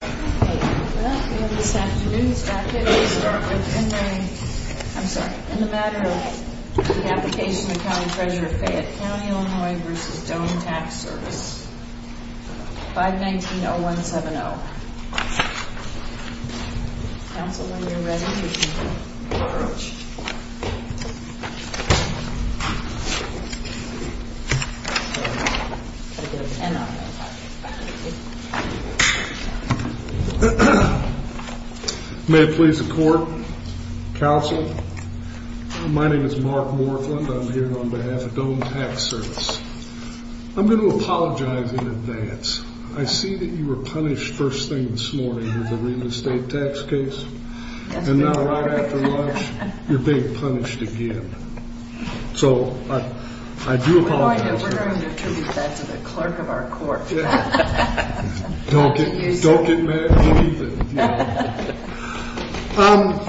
Well, we have this afternoon's packet. We'll start with in the, I'm sorry, in the Matter of the Application of the County Treasurer of Fayette County, Illinois v. Dome Tax Service, 519-0170. Counsel, when you're ready, you can approach. I've got an N on it. May it please the Court, Counsel, my name is Mark Morfland. I'm here on behalf of Dome Tax Service. I'm going to apologize in advance. I see that you were punished first thing this morning with the real estate tax case. And now, right after lunch, you're being punished again. So, I do apologize. We're going to attribute that to the clerk of our court. Don't get mad at me.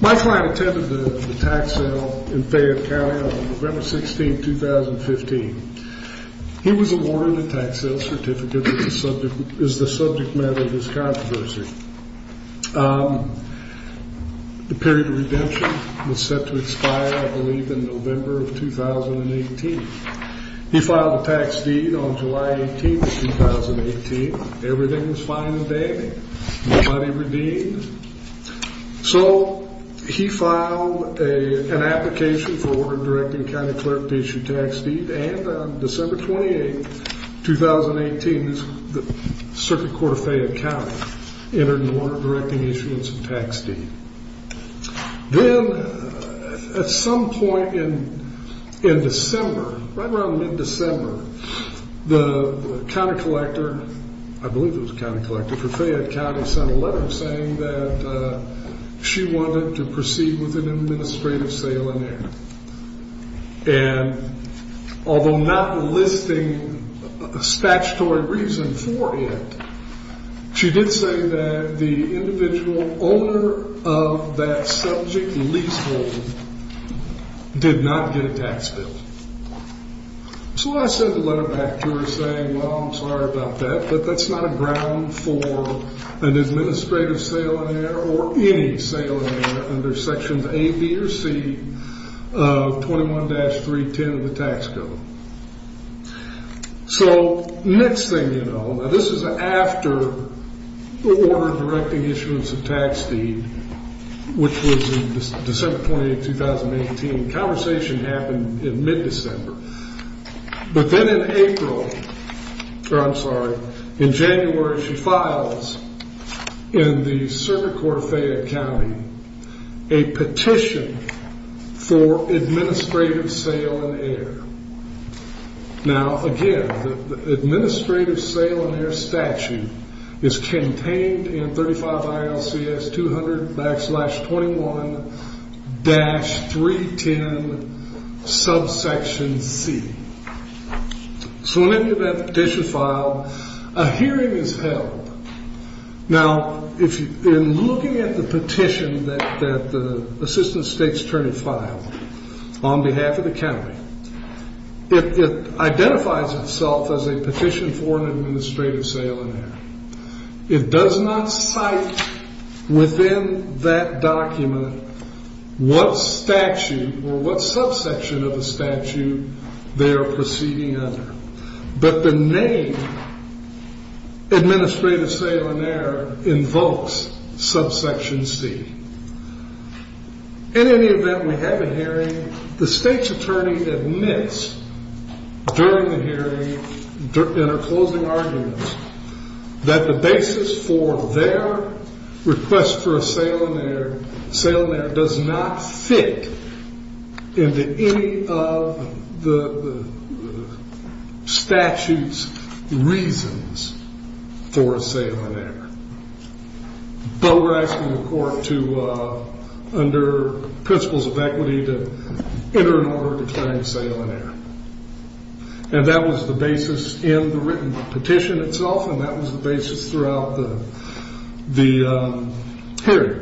My client attended the tax sale in Fayette County on November 16, 2015. He was awarded a tax sale certificate as the subject matter of his controversy. The period of redemption was set to expire, I believe, in November of 2018. He filed a tax deed on July 18, 2018. Everything was fine and dandy. Nobody redeemed. So, he filed an application for a warrant directing a county clerk to issue a tax deed. And on December 28, 2018, the Circuit Court of Fayette County entered into warrant directing issuance of tax deed. Then, at some point in December, right around mid-December, the county collector, I believe it was the county collector for Fayette County, sent a letter saying that she wanted to proceed with an administrative sale in there. And, although not listing a statutory reason for it, she did say that the individual owner of that subject leasehold did not get a tax bill. So, I sent a letter back to her saying, well, I'm sorry about that, but that's not a ground for an administrative sale in there or any sale in there under sections A, B, or C of 21-310 of the tax code. So, next thing you know, now this is after the order directing issuance of tax deed, which was December 28, 2018. Conversation happened in mid-December. But then in April, or I'm sorry, in January, she files in the Circuit Court of Fayette County a petition for administrative sale in there. Now, again, the administrative sale in there statute is contained in 35 ILCS 200-21-310 subsection C. So, when you get that petition filed, a hearing is held. Now, in looking at the petition that the Assistant State's Attorney filed on behalf of the county, it identifies itself as a petition for an administrative sale in there. It does not cite within that document what statute or what subsection of the statute they are proceeding under. But the name administrative sale in there invokes subsection C. In any event, we have a hearing. The State's Attorney admits during the hearing, in her closing arguments, that the basis for their request for a sale in there does not fit into any of the statute's reasons for a sale in there. But we're asking the court to, under principles of equity, to enter an order declaring a sale in there. And that was the basis in the written petition itself, and that was the basis throughout the hearing.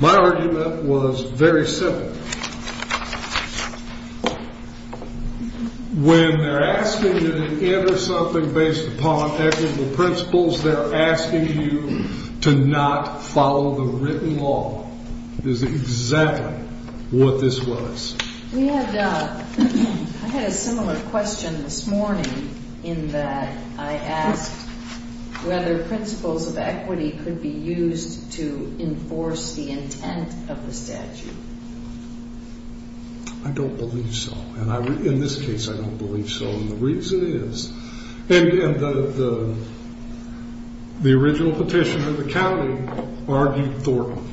My argument was very simple. When they're asking you to enter something based upon ethical principles, they're asking you to not follow the written law. This is exactly what this was. I had a similar question this morning in that I asked whether principles of equity could be used to enforce the intent of the statute. I don't believe so. In this case, I don't believe so. And the original petitioner of the county argued Thornton.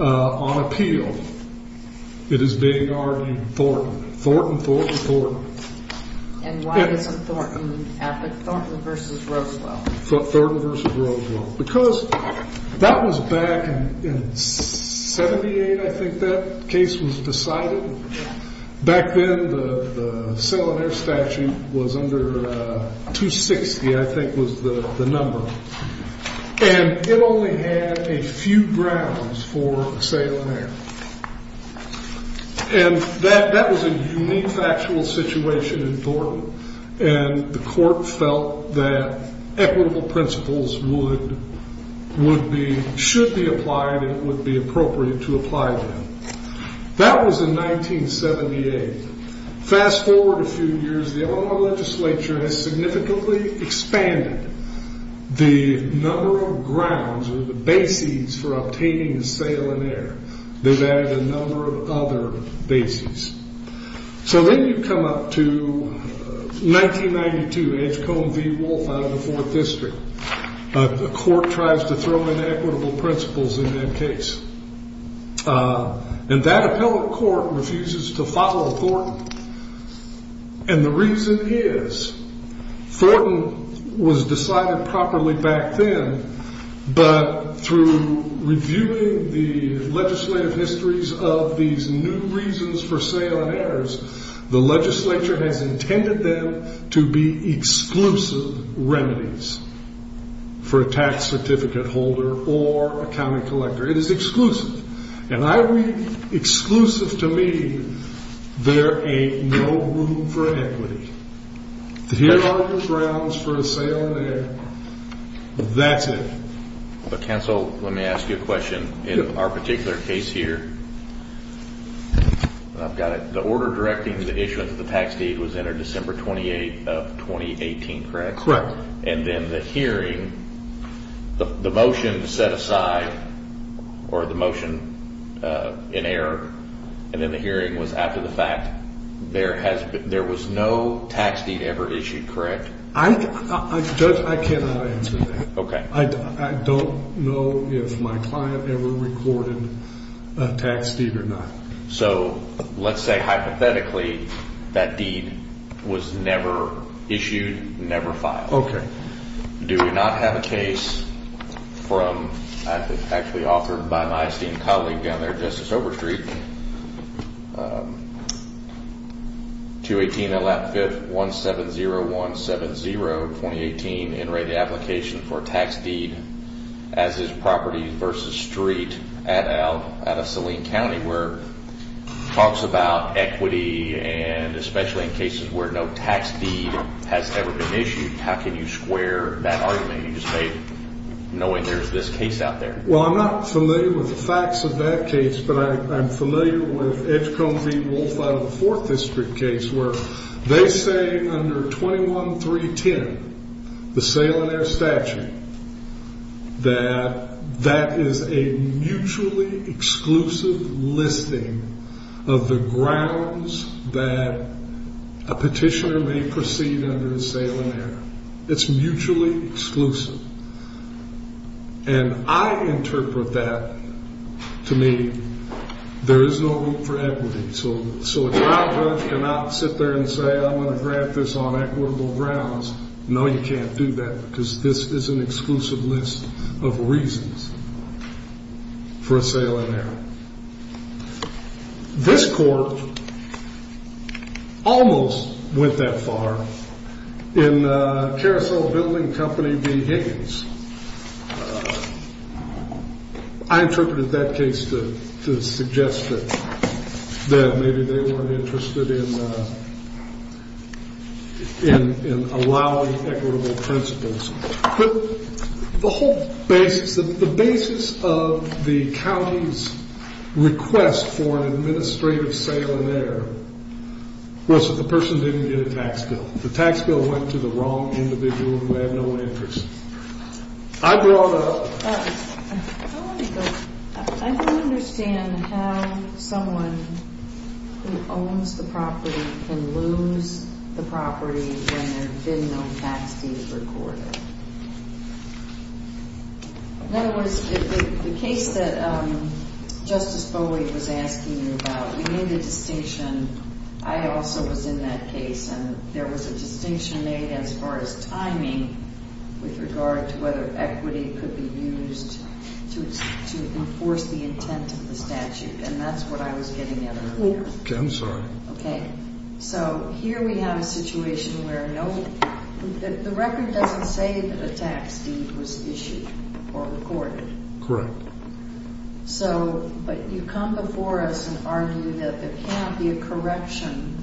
On appeal, it is being argued Thornton, Thornton, Thornton, Thornton. And why isn't Thornton? Thornton versus Rosewell. Thornton versus Rosewell. Because that was back in í78, I think that case was decided. Back then, the sale in there statute was under 260, I think was the number. And it only had a few grounds for sale in there. And that was a unique factual situation in Thornton. And the court felt that equitable principles would be, should be applied, and it would be appropriate to apply them. That was in í78. Fast forward a few years, the Illinois legislature has significantly expanded the number of grounds or the bases for obtaining a sale in there. They've added a number of other bases. So then you come up to í92, Edgecombe v. Wolfe out of the 4th District. The court tries to throw in equitable principles in that case. And that appellate court refuses to follow Thornton. And the reason is Thornton was decided properly back then, but through reviewing the legislative histories of these new reasons for sale in there, the legislature has intended them to be exclusive remedies for a tax certificate holder or a county collector. It is exclusive. And I read exclusive to mean there ain't no room for equity. Here are the grounds for a sale in there. That's it. But, counsel, let me ask you a question. In our particular case here, I've got it. The order directing the issuance of the tax deed was entered December 28th of 2018, correct? Correct. And then the hearing, the motion set aside or the motion in error, and then the hearing was after the fact. There was no tax deed ever issued, correct? I cannot answer that. Okay. I don't know if my client ever recorded a tax deed or not. So let's say hypothetically that deed was never issued, never filed. Okay. Do we not have a case from actually authored by my esteemed colleague down there, Justice Overstreet, 218 Allot 5th, 170170, 2018, in writing application for tax deed as is property versus street at a saline county where it talks about equity and especially in cases where no tax deed has ever been issued. How can you square that argument you just made knowing there's this case out there? Well, I'm not familiar with the facts of that case, but I'm familiar with Edgecombe v. Wolfe out of the 4th District case where they say under 21.310, the saline air statute, that that is a mutually exclusive listing of the grounds that a petitioner may proceed under the saline air. It's mutually exclusive. And I interpret that to mean there is no room for equity. So a trial judge cannot sit there and say, I'm going to grant this on equitable grounds. No, you can't do that because this is an exclusive list of reasons for a saline air. This court almost went that far in Carousel Building Company v. Higgins. I interpreted that case to suggest that maybe they weren't interested in allowing equitable principles. But the whole basis of the county's request for an administrative saline air was that the person didn't get a tax bill. The tax bill went to the wrong individual who had no interest. I don't understand how someone who owns the property can lose the property when there have been no tax deeds recorded. In other words, the case that Justice Bowie was asking you about, you made a distinction. I also was in that case, and there was a distinction made as far as timing with regard to whether equity could be used to enforce the intent of the statute. And that's what I was getting at earlier. I'm sorry. Okay. So here we have a situation where the record doesn't say that a tax deed was issued or recorded. Correct. But you come before us and argue that there can't be a correction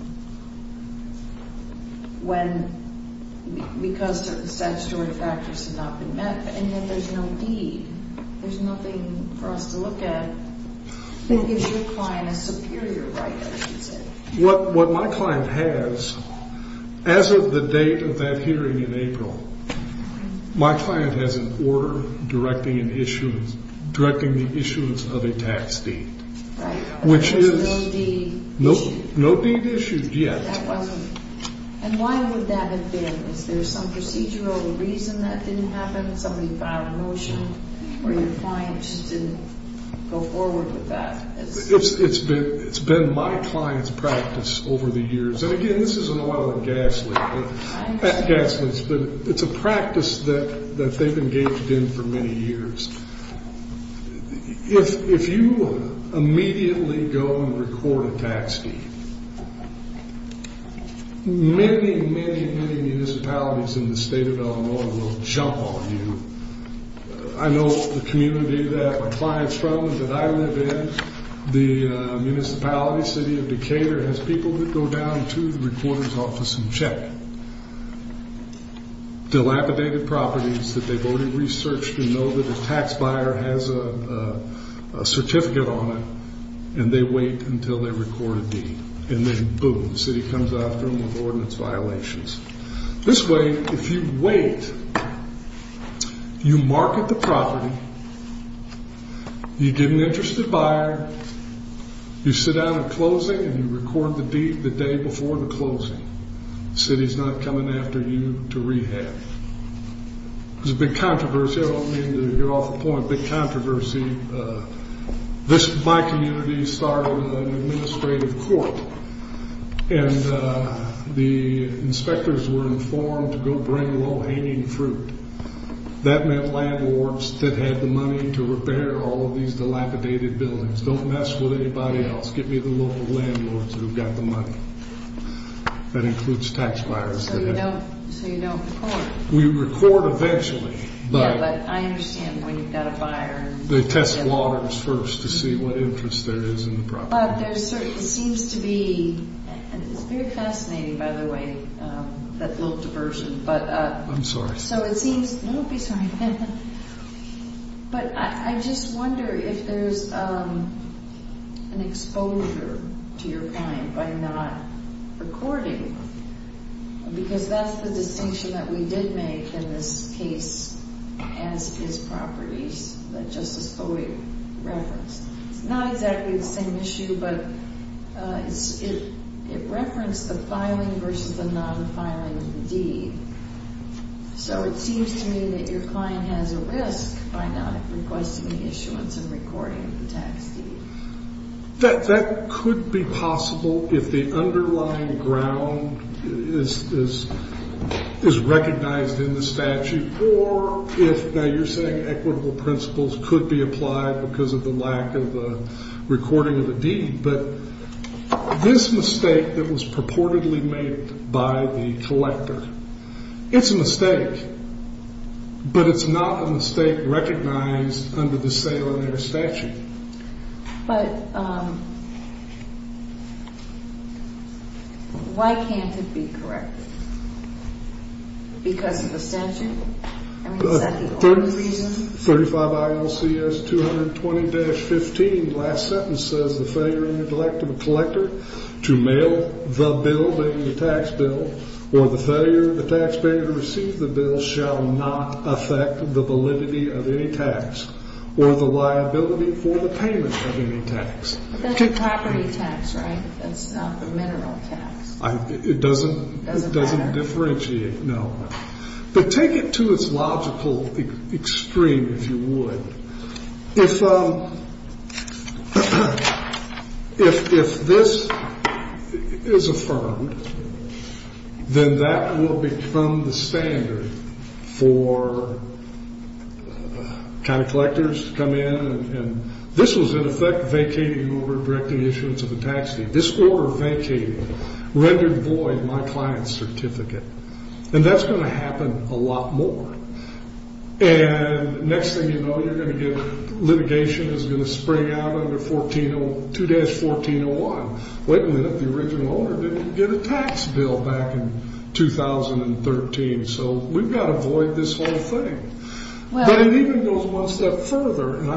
because statutory factors have not been met and that there's no deed. There's nothing for us to look at that gives your client a superior right, I should say. What my client has, as of the date of that hearing in April, my client has an order directing the issuance of a tax deed, which is no deed issued yet. That wasn't. And why would that have been? Is there some procedural reason that didn't happen, somebody filed a motion, or your client just didn't go forward with that? It's been my client's practice over the years. And, again, this isn't a lot of gas leaks, but it's a practice that they've engaged in for many years. If you immediately go and record a tax deed, many, many, many municipalities in the state of Illinois will jump on you. I know the community that my client's from and that I live in. The municipality city of Decatur has people that go down to the recorder's office and check dilapidated properties that they've already researched and know that a tax buyer has a certificate on it. And they wait until they record a deed. And then, boom, the city comes after them with ordinance violations. This way, if you wait, you market the property, you get an interested buyer, you sit down at closing, and you record the deed the day before the closing. The city's not coming after you to rehab. There's a big controversy. I don't mean to get off the point, a big controversy. My community started an administrative court, and the inspectors were informed to go bring low-hanging fruit. That meant landlords that had the money to repair all of these dilapidated buildings. Don't mess with anybody else. Get me the local landlords who've got the money. That includes tax buyers. So you don't record. We record eventually. I understand when you've got a buyer. They test waters first to see what interest there is in the property. It seems to be, and it's very fascinating, by the way, that little diversion. I'm sorry. No, don't be sorry. But I just wonder if there's an exposure to your client by not recording. Because that's the distinction that we did make in this case as is properties that Justice Foley referenced. It's not exactly the same issue, but it referenced the filing versus the non-filing of the deed. So it seems to me that your client has a risk by not requesting the issuance and recording of the tax deed. That could be possible if the underlying ground is recognized in the statute. Or if, now you're saying equitable principles could be applied because of the lack of the recording of the deed. But this mistake that was purportedly made by the collector, it's a mistake. But it's not a mistake recognized under the salient air statute. But why can't it be corrected? Because of the statute? I mean, is that the only reason? 35 ILCS 220-15, last sentence, says the failure and neglect of a collector to mail the bill, namely the tax bill, or the failure of the taxpayer to receive the bill shall not affect the validity of any tax or the liability for the payment of any tax. That's the property tax, right? That's not the mineral tax. It doesn't differentiate. No. But take it to its logical extreme, if you would. If this is affirmed, then that will become the standard for county collectors to come in. And this was, in effect, vacating over direct issuance of the tax deed. This order vacated, rendered void my client's certificate. And that's going to happen a lot more. And next thing you know, you're going to get litigation that's going to spring out under 2-1401. Wait until the original owner didn't get a tax bill back in 2013. So we've got to avoid this whole thing. But it even goes one step further. Go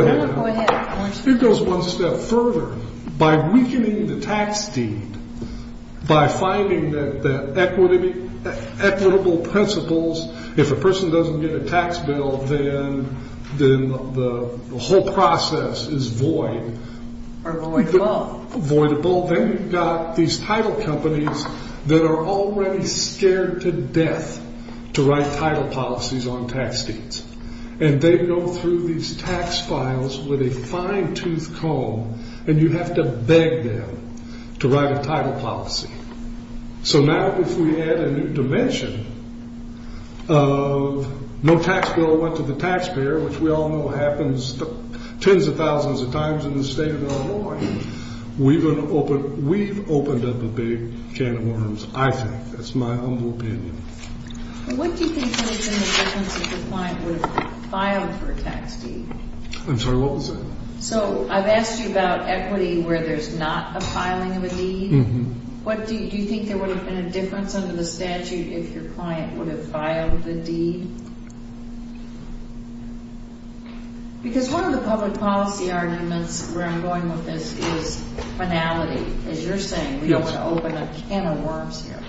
ahead. Go ahead. It goes one step further. By weakening the tax deed, by finding that equitable principles, if a person doesn't get a tax bill, then the whole process is void. Voidable. Voidable. Then you've got these title companies that are already scared to death to write title policies on tax deeds. And they go through these tax files with a fine-tooth comb, and you have to beg them to write a title policy. So now if we add a new dimension of no tax bill went to the taxpayer, which we all know happens tens of thousands of times in the state of Illinois, we've opened up a big can of worms, I think. That's my humble opinion. What do you think would have been the difference if the client would have filed for a tax deed? I'm sorry, what was that? So I've asked you about equity where there's not a filing of a deed. Do you think there would have been a difference under the statute if your client would have filed the deed? Because one of the public policy arguments where I'm going with this is finality. As you're saying, we don't want to open a can of worms here.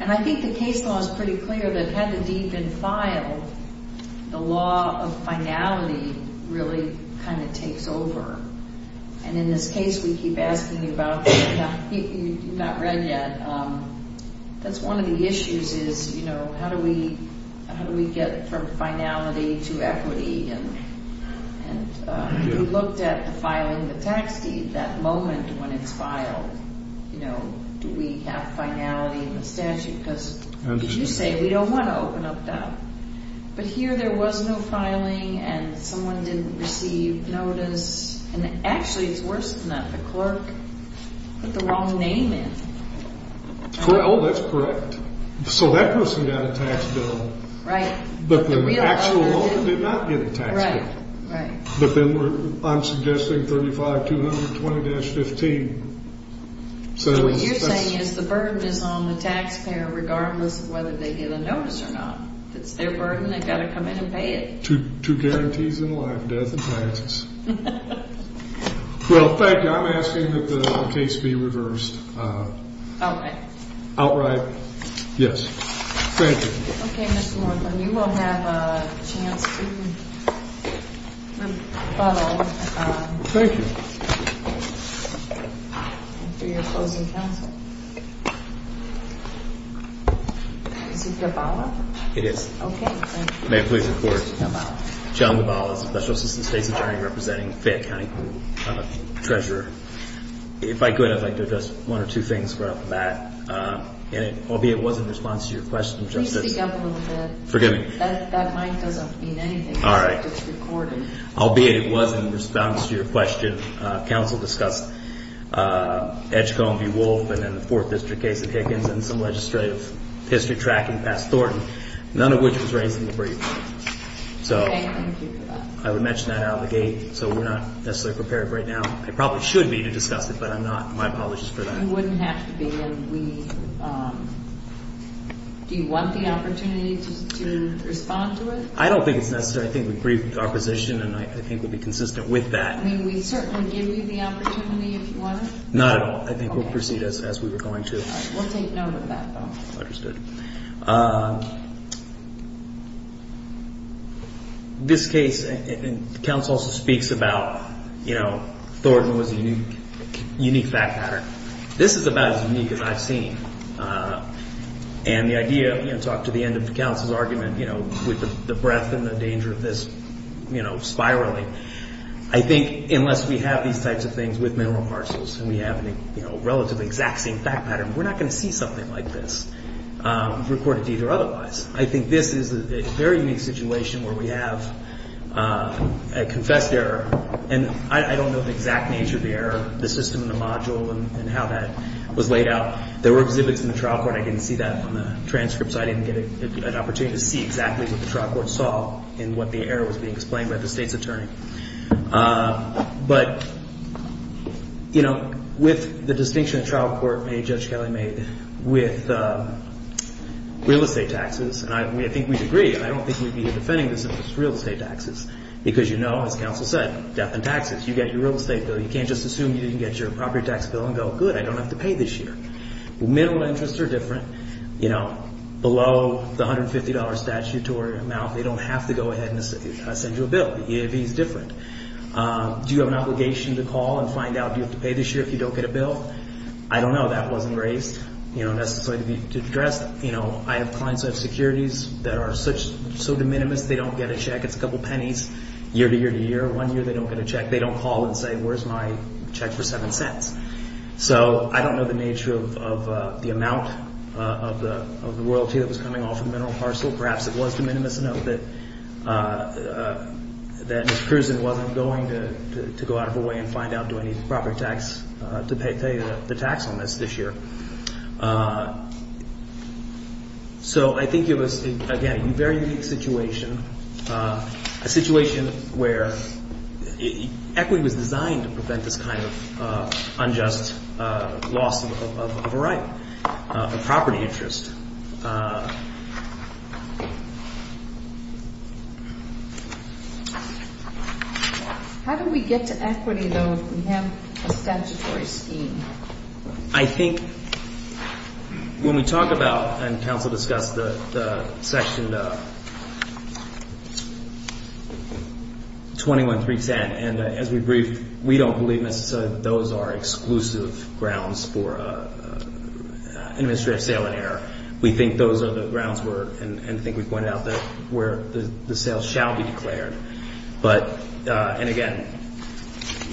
And I think the case law is pretty clear that had the deed been filed, the law of finality really kind of takes over. And in this case, we keep asking you about that. You've not read yet. That's one of the issues is, you know, how do we get from finality to equity? And if you looked at the filing of the tax deed, that moment when it's filed, you know, do we have finality in the statute? Because as you say, we don't want to open up that. But here there was no filing and someone didn't receive notice. And actually, it's worse than that. The clerk put the wrong name in. Well, that's correct. So that person got a tax bill. Right. But the actual owner did not get a tax bill. Right, right. But then I'm suggesting 35, 200, 20-15. So what you're saying is the burden is on the taxpayer regardless of whether they get a notice or not. If it's their burden, they've got to come in and pay it. Two guarantees in life, death and taxes. Well, thank you. I'm asking that the case be reversed. Outright. Outright, yes. Thank you. Okay, Mr. Moreland, you will have a chance to rebuttal. Thank you. For your closing counsel. Is it Jabala? It is. Okay, thank you. May it please the Court. It's Jabala. John Jabala, Special Assistant State's Attorney representing Fayette County Group. I'm a treasurer. If I could, I'd like to address one or two things right off the bat. Albeit it wasn't in response to your question, Justice. Can you speak up a little bit? Forgive me. That mic doesn't mean anything. All right. It's recorded. Albeit it was in response to your question, counsel discussed Edgecombe v. Wolfe and then the Fourth District case of Higgins and some legislative history tracking past Thornton, none of which was raised in the brief. Okay, thank you for that. I would mention that out of the gate, so we're not necessarily prepared right now. I probably should be to discuss it, but I'm not. My apologies for that. You wouldn't have to be. Do you want the opportunity to respond to it? I don't think it's necessary. I think we briefed our position, and I think we'd be consistent with that. May we certainly give you the opportunity if you want to? Not at all. I think we'll proceed as we were going to. All right. We'll take note of that, though. Understood. Thank you. This case, and counsel also speaks about, you know, Thornton was a unique fact pattern. This is about as unique as I've seen. And the idea, you know, talk to the end of the counsel's argument, you know, with the breadth and the danger of this, you know, spiraling, I think unless we have these types of things with mineral parcels and we have a relatively exact same fact pattern, we're not going to see something like this. We've reported to either otherwise. I think this is a very unique situation where we have a confessed error, and I don't know the exact nature of the error, the system and the module, and how that was laid out. There were exhibits in the trial court. I didn't see that on the transcripts. I didn't get an opportunity to see exactly what the trial court saw and what the error was being explained by the State's attorney. But, you know, with the distinction the trial court made, Judge Kelly made, with real estate taxes, and I think we'd agree, I don't think we'd be defending this if it's real estate taxes, because you know, as counsel said, death in taxes. You get your real estate bill. You can't just assume you didn't get your property tax bill and go, good, I don't have to pay this year. Mineral interests are different. You know, below the $150 statute or amount, they don't have to go ahead and send you a bill. But the EAV is different. Do you have an obligation to call and find out, do you have to pay this year if you don't get a bill? I don't know. That wasn't raised, you know, necessarily to be addressed. You know, I have clients who have securities that are so de minimis they don't get a check. It's a couple pennies year to year to year. One year they don't get a check. They don't call and say, where's my check for seven cents? So I don't know the nature of the amount of the royalty that was coming off of the mineral parcel. Perhaps it was de minimis enough that Mr. Kersen wasn't going to go out of the way and find out, do I need the property tax to pay the tax on this this year? So I think it was, again, a very unique situation, a situation where equity was designed to prevent this kind of unjust loss of a right, a property interest. How do we get to equity, though, if we have a statutory scheme? I think when we talk about, and counsel discussed the section 21.310, and as we briefed, we don't believe necessarily that those are exclusive grounds for administrative sale in error. We think those are the grounds where, and I think we pointed out, where the sale shall be declared. But, and again,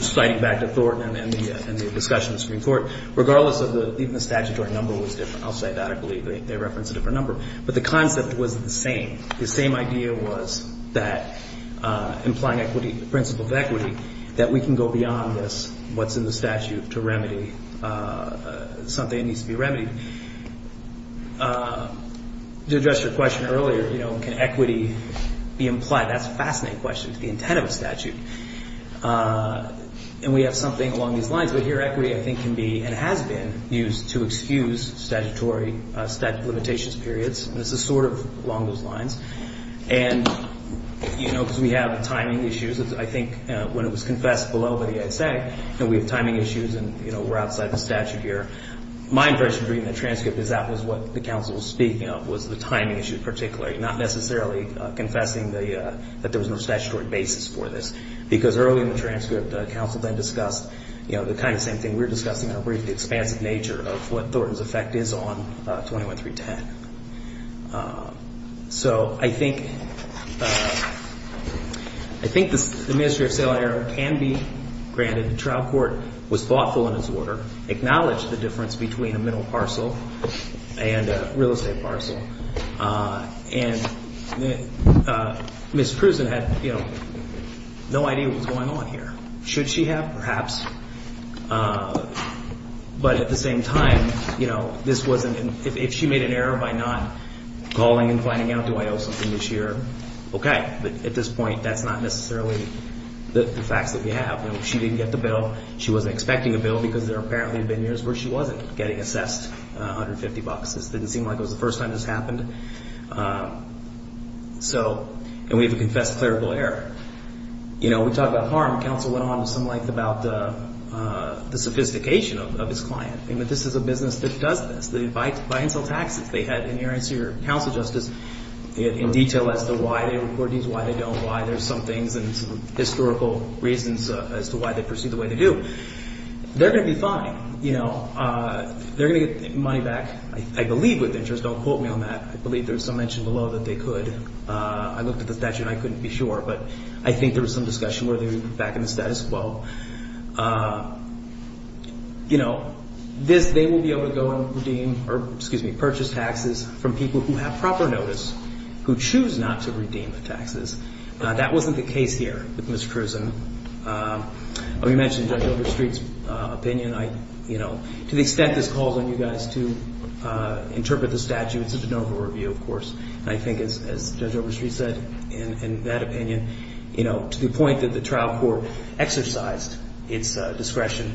citing back to Thornton and the discussion of the Supreme Court, regardless of the, even the statutory number was different. I'll say that. I believe they referenced a different number. But the concept was the same. The same idea was that implying equity, the principle of equity, that we can go beyond this, what's in the statute, to remedy something that needs to be remedied. To address your question earlier, you know, can equity be implied? That's a fascinating question. It's the intent of a statute. And we have something along these lines. But here equity, I think, can be and has been used to excuse statutory, statute of limitations periods. And this is sort of along those lines. And, you know, because we have timing issues. I think when it was confessed below by the ASA, we have timing issues and, you know, we're outside the statute here. My impression reading the transcript is that was what the counsel was speaking of was the timing issue in particular, not necessarily confessing that there was no statutory basis for this. Because early in the transcript, counsel then discussed, you know, the kind of same thing we were discussing, the expansive nature of what Thornton's effect is on 21-310. So I think the Ministry of Sale and Error can be granted. The trial court was thoughtful in its order, acknowledged the difference between a middle parcel and a real estate parcel. And Ms. Cruzan had, you know, no idea what was going on here. Should she have? Perhaps. But at the same time, you know, this wasn't an ‑‑ if she made an error by not calling and finding out, do I owe something this year? Okay. But at this point, that's not necessarily the facts that we have. You know, she didn't get the bill. She wasn't expecting a bill because there apparently had been years where she wasn't getting assessed $150. This didn't seem like it was the first time this happened. So ‑‑ and we have a confessed clerical error. You know, we talk about harm. Counsel went on to some length about the sophistication of his client. I mean, this is a business that does this. They buy and sell taxes. They had an earnest counsel justice in detail as to why they record these, why they don't, why there's some things and some historical reasons as to why they proceed the way they do. They're going to be fine. You know, they're going to get money back, I believe, with interest. Don't quote me on that. I believe there's some mention below that they could. I looked at the statute and I couldn't be sure, but I think there was some discussion whether they would be put back in the status quo. You know, they will be able to go and redeem or, excuse me, purchase taxes from people who have proper notice, who choose not to redeem the taxes. That wasn't the case here with Ms. Cruzan. We mentioned Judge Overstreet's opinion. You know, to the extent this calls on you guys to interpret the statute, it's a de novo review, of course. And I think as Judge Overstreet said in that opinion, you know, to the point that the trial court exercised its discretion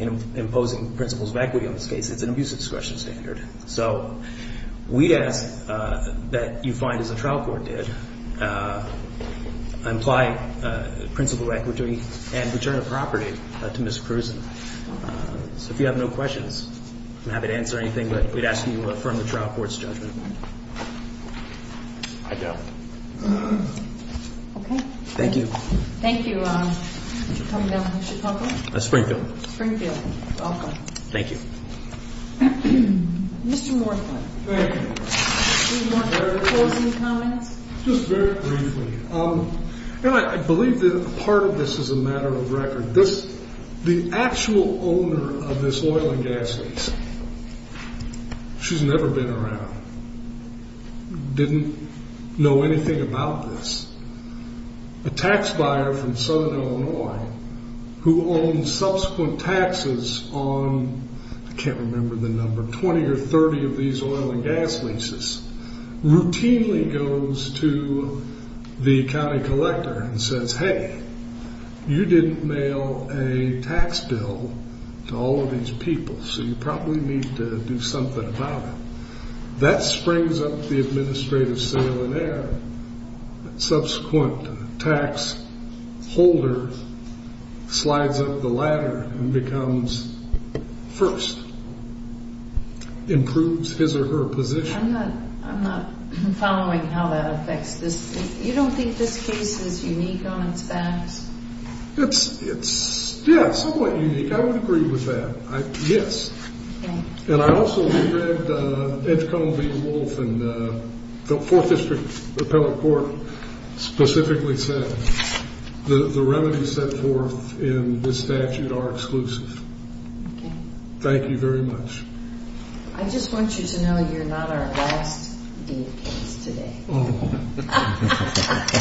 in imposing principles of equity on this case, it's an abuse of discretion standard. So we ask that you find, as the trial court did, imply principle of equity and return of property to Ms. Cruzan. So if you have no questions, I'm happy to answer anything, but we'd ask that you affirm the trial court's judgment. I do. Okay. Thank you. Thank you. Coming down from Chicago? Springfield. Springfield. Welcome. Thank you. Mr. Morthman. Thank you. Do you want closing comments? Just very briefly. You know, I believe that part of this is a matter of record. The actual owner of this oil and gas lease, she's never been around, didn't know anything about this. A tax buyer from southern Illinois who owns subsequent taxes on, I can't remember the number, 20 or 30 of these oil and gas leases, routinely goes to the county collector and says, Hey, you didn't mail a tax bill to all of these people, so you probably need to do something about it. That springs up the administrative sale in error. Subsequent tax holder slides up the ladder and becomes first, improves his or her position. I'm not following how that affects this. You don't think this case is unique on its backs? It's, yeah, somewhat unique. I would agree with that. Yes. Okay. And I also read Ed Cone v. Wolf and the Fourth District Appellate Court specifically said the remedies set forth in this statute are exclusive. Okay. Thank you very much. I just want you to know you're not our last data case today. Oh.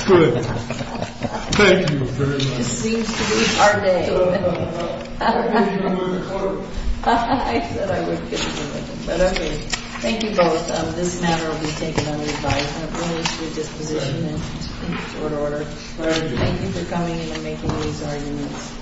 Good. Thank you very much. This seems to be our day. I don't know. I don't know you were in court. I said I would get to do it. But okay. Thank you both. This matter will be taken under revise and appointed to a disposition in short order. Thank you for coming and making these arguments.